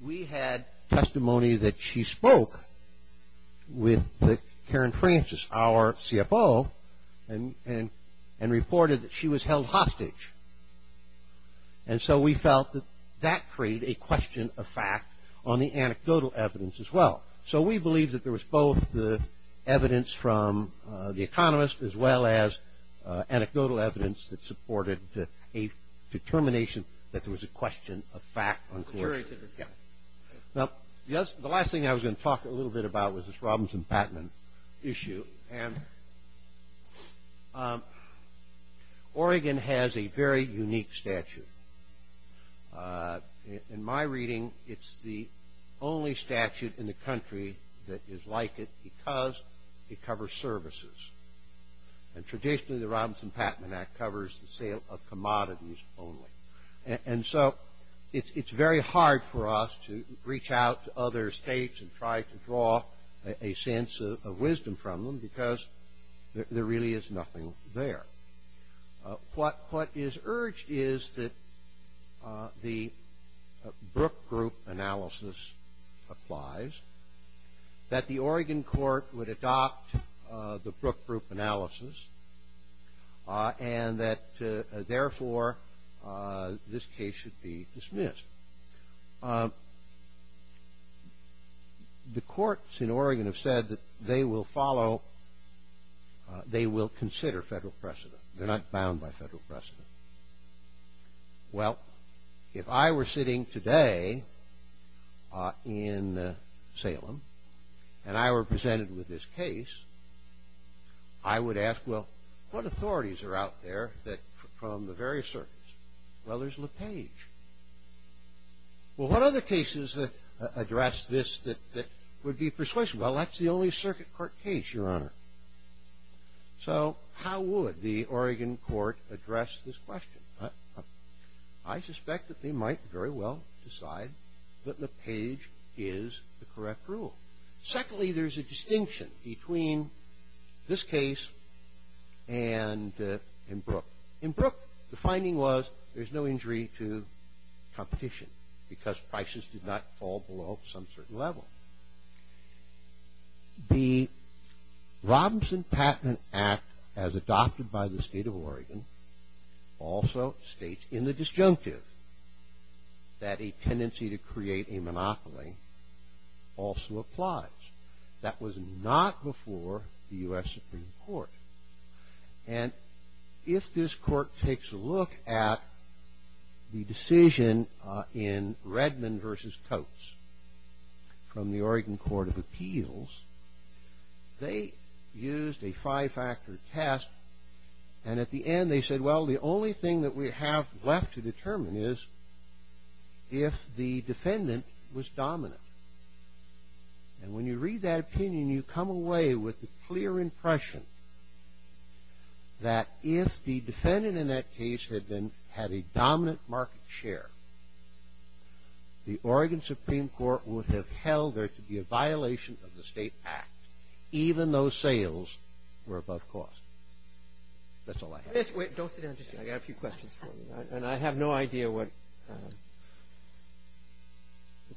we had testimony that she spoke with Karen Francis, our CFO, and reported that she was held hostage. And so we felt that that created a question of fact on the anecdotal evidence as well. So we believe that there was both the evidence from the economist as well as anecdotal evidence that supported a determination that there was a question of fact on coercion. Now, the last thing I was going to talk a little bit about was this Robinson-Batman issue. And Oregon has a very unique statute. In my reading, it's the only statute in the country that is like it because it covers services. And traditionally, the Robinson-Batman Act covers the sale of commodities only. And so it's very hard for us to reach out to other states and try to draw a sense of wisdom from them because there really is nothing there. What is urged is that the Brook Group analysis applies, that the Oregon court would adopt the Brook Group analysis, and that, therefore, this case should be dismissed. The courts in Oregon have said that they will follow, they will consider federal precedent. They're not bound by federal precedent. Well, if I were sitting today in Salem and I were presented with this case, I would ask, well, what authorities are out there from the various circuits? Well, there's LePage. Well, what other cases address this that would be persuasive? Well, that's the only circuit court case, Your Honor. So how would the Oregon court address this question? I suspect that they might very well decide that LePage is the correct rule. Secondly, there's a distinction between this case and in Brook. In Brook, the finding was there's no injury to competition because prices did not fall below some certain level. The Robinson Patent Act, as adopted by the state of Oregon, also states in the disjunctive that a tendency to create a monopoly also applies. That was not before the U.S. Supreme Court. And if this court takes a look at the decision in Redmond v. Coates from the Oregon Court of Appeals, they used a five-factor test, and at the end they said, well, the only thing that we have left to determine is if the defendant was dominant. And when you read that opinion, you come away with the clear impression that if the defendant in that case had a dominant market share, the Oregon Supreme Court would have held there to be a violation of the state act, even though sales were above cost. That's all I have. Wait, don't sit down just yet. I've got a few questions for you. And I have no idea what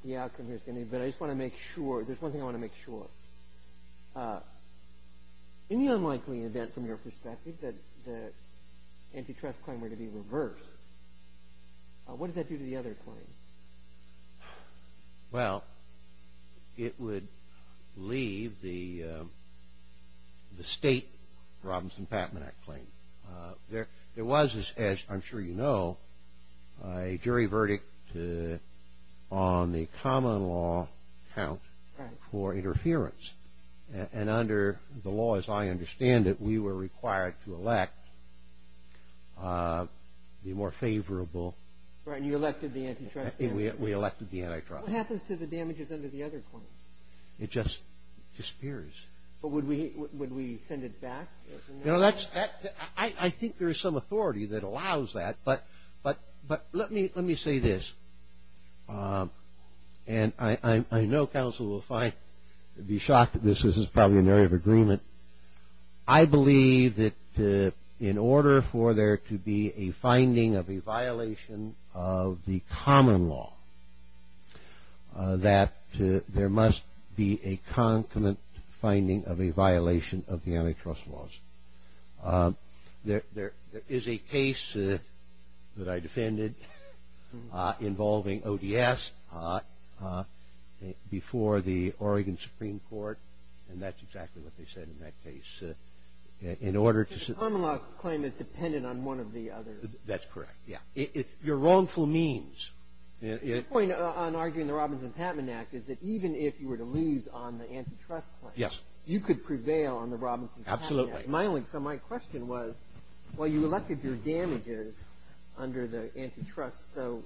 the outcome is going to be, but I just want to make sure, there's one thing I want to make sure. In the unlikely event, from your perspective, that the antitrust claim were to be reversed, what does that do to the other claims? Well, it would leave the state Robinson Patent Act claim. There was, as I'm sure you know, a jury verdict on the common law count for interference. And under the law, as I understand it, we were required to elect the more favorable. Right, and you elected the antitrust claim. We elected the antitrust claim. What happens to the damages under the other claims? It just disappears. But would we send it back? You know, I think there is some authority that allows that. But let me say this. And I know counsel will be shocked that this is probably an area of agreement. I believe that in order for there to be a finding of a violation of the common law, that there must be a concomitant finding of a violation of the antitrust laws. There is a case that I defended involving ODS before the Oregon Supreme Court. And that's exactly what they said in that case. In order to see. The common law claim is dependent on one of the other. That's correct, yeah. Your wrongful means. The point on arguing the Robinson-Patman Act is that even if you were to lose on the antitrust claim. Yes. You could prevail on the Robinson-Patman Act. Absolutely. So my question was, well, you elected your damages under the antitrust, so.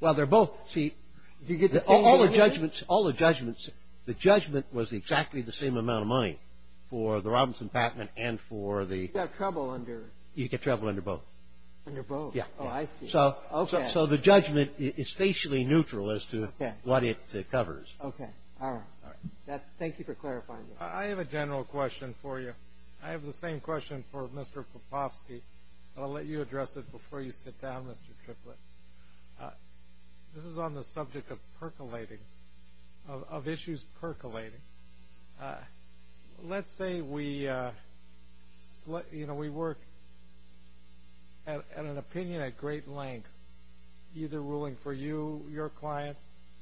Well, they're both. See, all the judgments, all the judgments, the judgment was exactly the same amount of money for the Robinson-Patman and for the. You'd have trouble under. You'd get trouble under both. Under both. Oh, I see. So the judgment is spatially neutral as to what it covers. Okay. All right. Thank you for clarifying that. I have a general question for you. I have the same question for Mr. Popofsky. I'll let you address it before you sit down, Mr. Triplett. This is on the subject of percolating, of issues percolating. Let's say we, you know, we work at an opinion at great length, either ruling for you, your client,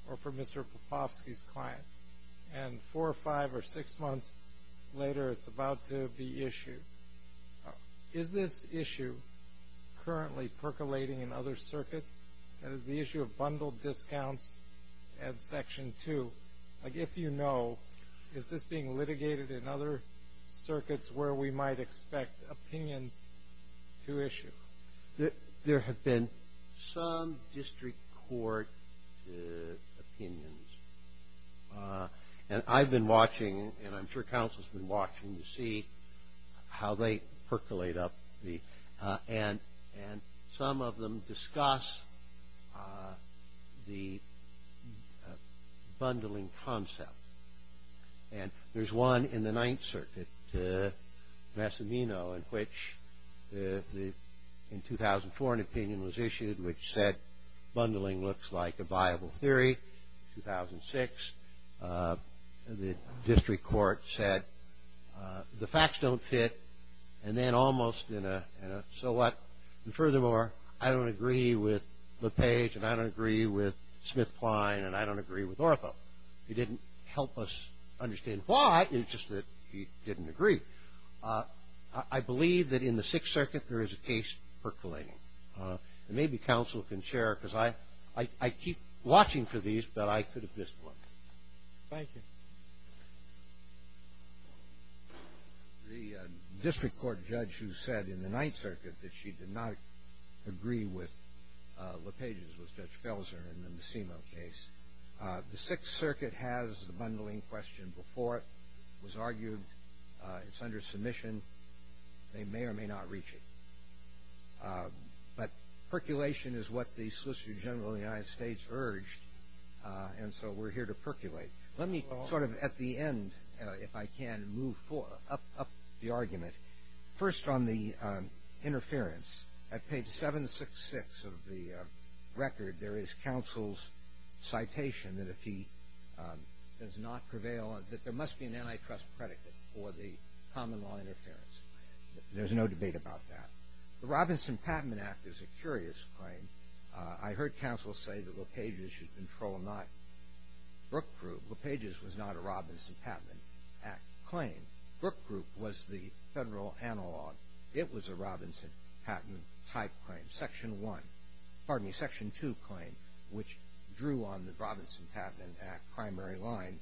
or for Mr. Popofsky's client, and four or five or six months later it's about to be issued. Is this issue currently percolating in other circuits? That is the issue of bundled discounts and Section 2. If you know, is this being litigated in other circuits where we might expect opinions to issue? There have been some district court opinions, and I've been watching and I'm sure counsel's been watching to see how they percolate up. And some of them discuss the bundling concept, and there's one in the Ninth Circuit, Massimino, in which in 2004 an opinion was issued which said bundling looks like a viable theory. In 2006 the district court said the facts don't fit. And then almost in a, so what? And furthermore, I don't agree with LePage, and I don't agree with Smith-Klein, and I don't agree with Ortho. He didn't help us understand why, it's just that he didn't agree. I believe that in the Sixth Circuit there is a case percolating. And maybe counsel can share, because I keep watching for these, but I could have missed one. Thank you. The district court judge who said in the Ninth Circuit that she did not agree with LePage's was Judge Felser in the Massimino case. The Sixth Circuit has the bundling question before it. It was argued it's under submission. They may or may not reach it. But percolation is what the Solicitor General of the United States urged, and so we're here to percolate. Let me sort of at the end, if I can, move up the argument. First on the interference. At page 766 of the record there is counsel's citation that if he does not prevail, that there must be an antitrust predicate for the common law interference. There's no debate about that. The Robinson Patent Act is a curious claim. I heard counsel say that LePage's should control not Brook Group. LePage's was not a Robinson Patent Act claim. Brook Group was the federal analog. It was a Robinson Patent type claim. Section 1, pardon me, Section 2 claim, which drew on the Robinson Patent Act primary line,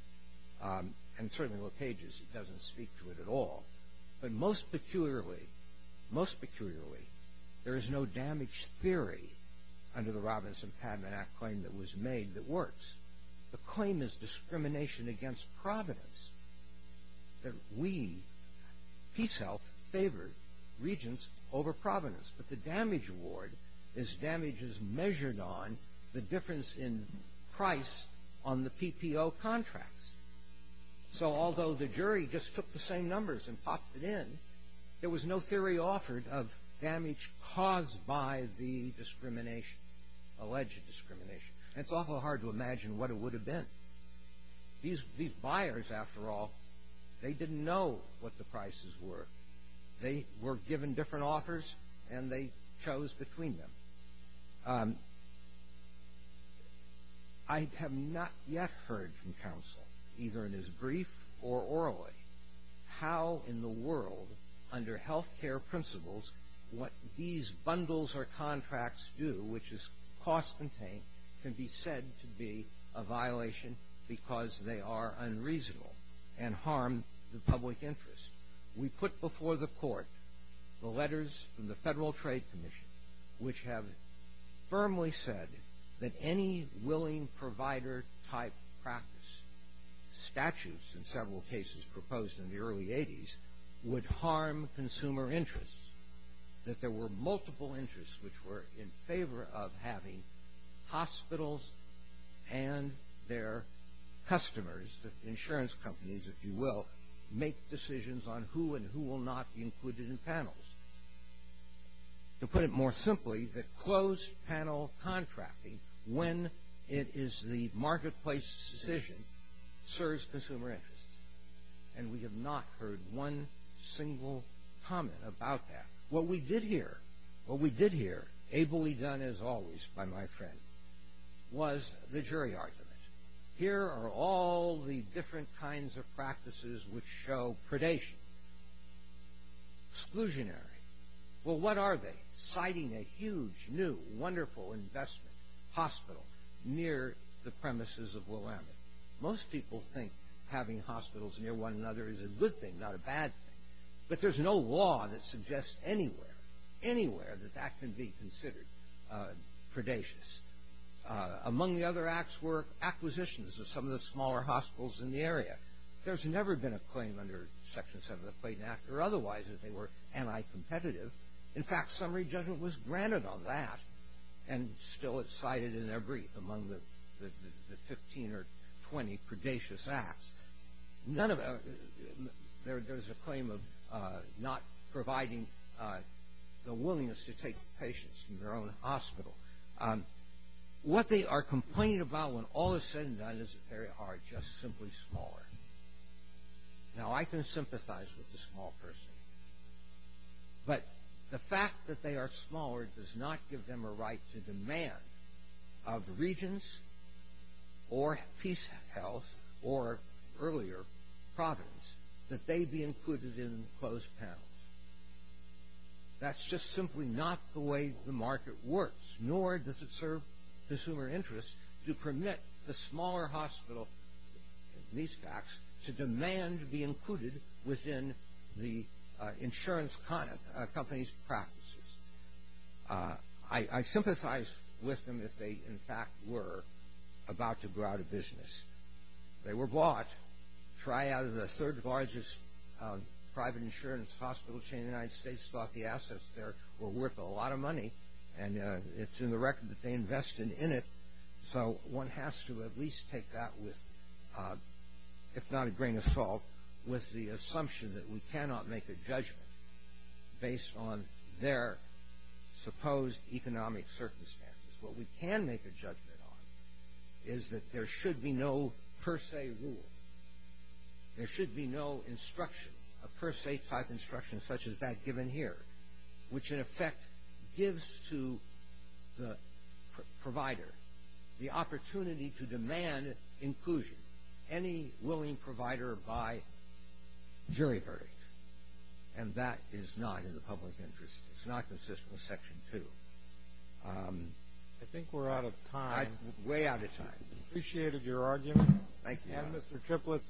and certainly LePage's doesn't speak to it at all. But most peculiarly, most peculiarly, there is no damage theory under the Robinson Patent Act claim that was made that works. The claim is discrimination against providence, that we, PeaceHealth, favored regents over providence. But the damage award is damages measured on the difference in price on the PPO contracts. So although the jury just took the same numbers and popped it in, there was no theory offered of damage caused by the discrimination, alleged discrimination. And it's awful hard to imagine what it would have been. These buyers, after all, they didn't know what the prices were. They were given different offers, and they chose between them. I have not yet heard from counsel, either in his brief or orally, how in the world, under health care principles, what these bundles or contracts do, which is cost-contained, can be said to be a violation because they are unreasonable and harm the public interest. We put before the court the letters from the Federal Trade Commission, which have firmly said that any willing provider-type practice, statutes in several cases proposed in the early 80s, would harm consumer interests, that there were multiple interests which were in favor of having hospitals and their customers, the insurance companies, if you will, make decisions on who and who will not be included in panels. To put it more simply, the closed-panel contracting, when it is the marketplace decision, serves consumer interests. And we have not heard one single comment about that. What we did hear, what we did hear, ably done as always by my friend, was the jury argument. Here are all the different kinds of practices which show predation. Exclusionary. Well, what are they? Citing a huge, new, wonderful investment hospital near the premises of Willamette. Most people think having hospitals near one another is a good thing, not a bad thing. But there's no law that suggests anywhere, anywhere, that that can be considered predacious. Among the other acts were acquisitions of some of the smaller hospitals in the area. There's never been a claim under Section 7 of the Clayton Act or otherwise that they were anti-competitive. In fact, summary judgment was granted on that, and still it's cited in their brief among the 15 or 20 predacious acts. There's a claim of not providing the willingness to take patients from their own hospital. What they are complaining about when all is said and done is that they are just simply smaller. Now, I can sympathize with the small person. But the fact that they are smaller does not give them a right to demand of regions or peace health or earlier providence that they be included in closed panels. That's just simply not the way the market works, nor does it serve consumer interests to permit the smaller hospital, these facts, to demand to be included within the insurance company's practices. I sympathize with them if they, in fact, were about to go out of business. They were bought, Triad, the third largest private insurance hospital chain in the United States, thought the assets there were worth a lot of money. And it's in the record that they invested in it. So one has to at least take that with, if not a grain of salt, with the assumption that we cannot make a judgment based on their supposed economic circumstances. What we can make a judgment on is that there should be no per se rule. There should be no instruction, a per se type instruction such as that given here, which in effect gives to the provider the opportunity to demand inclusion. Any willing provider by jury verdict. And that is not in the public interest. It's not consistent with Section 2. I think we're out of time. Way out of time. I appreciated your argument. Thank you. And, Mr. Triplett,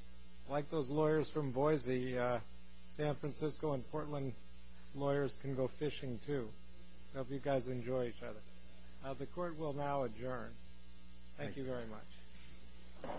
like those lawyers from Boise, San Francisco and Portland lawyers can go fishing, too. I hope you guys enjoy each other. The Court will now adjourn. Thank you very much. Thank you.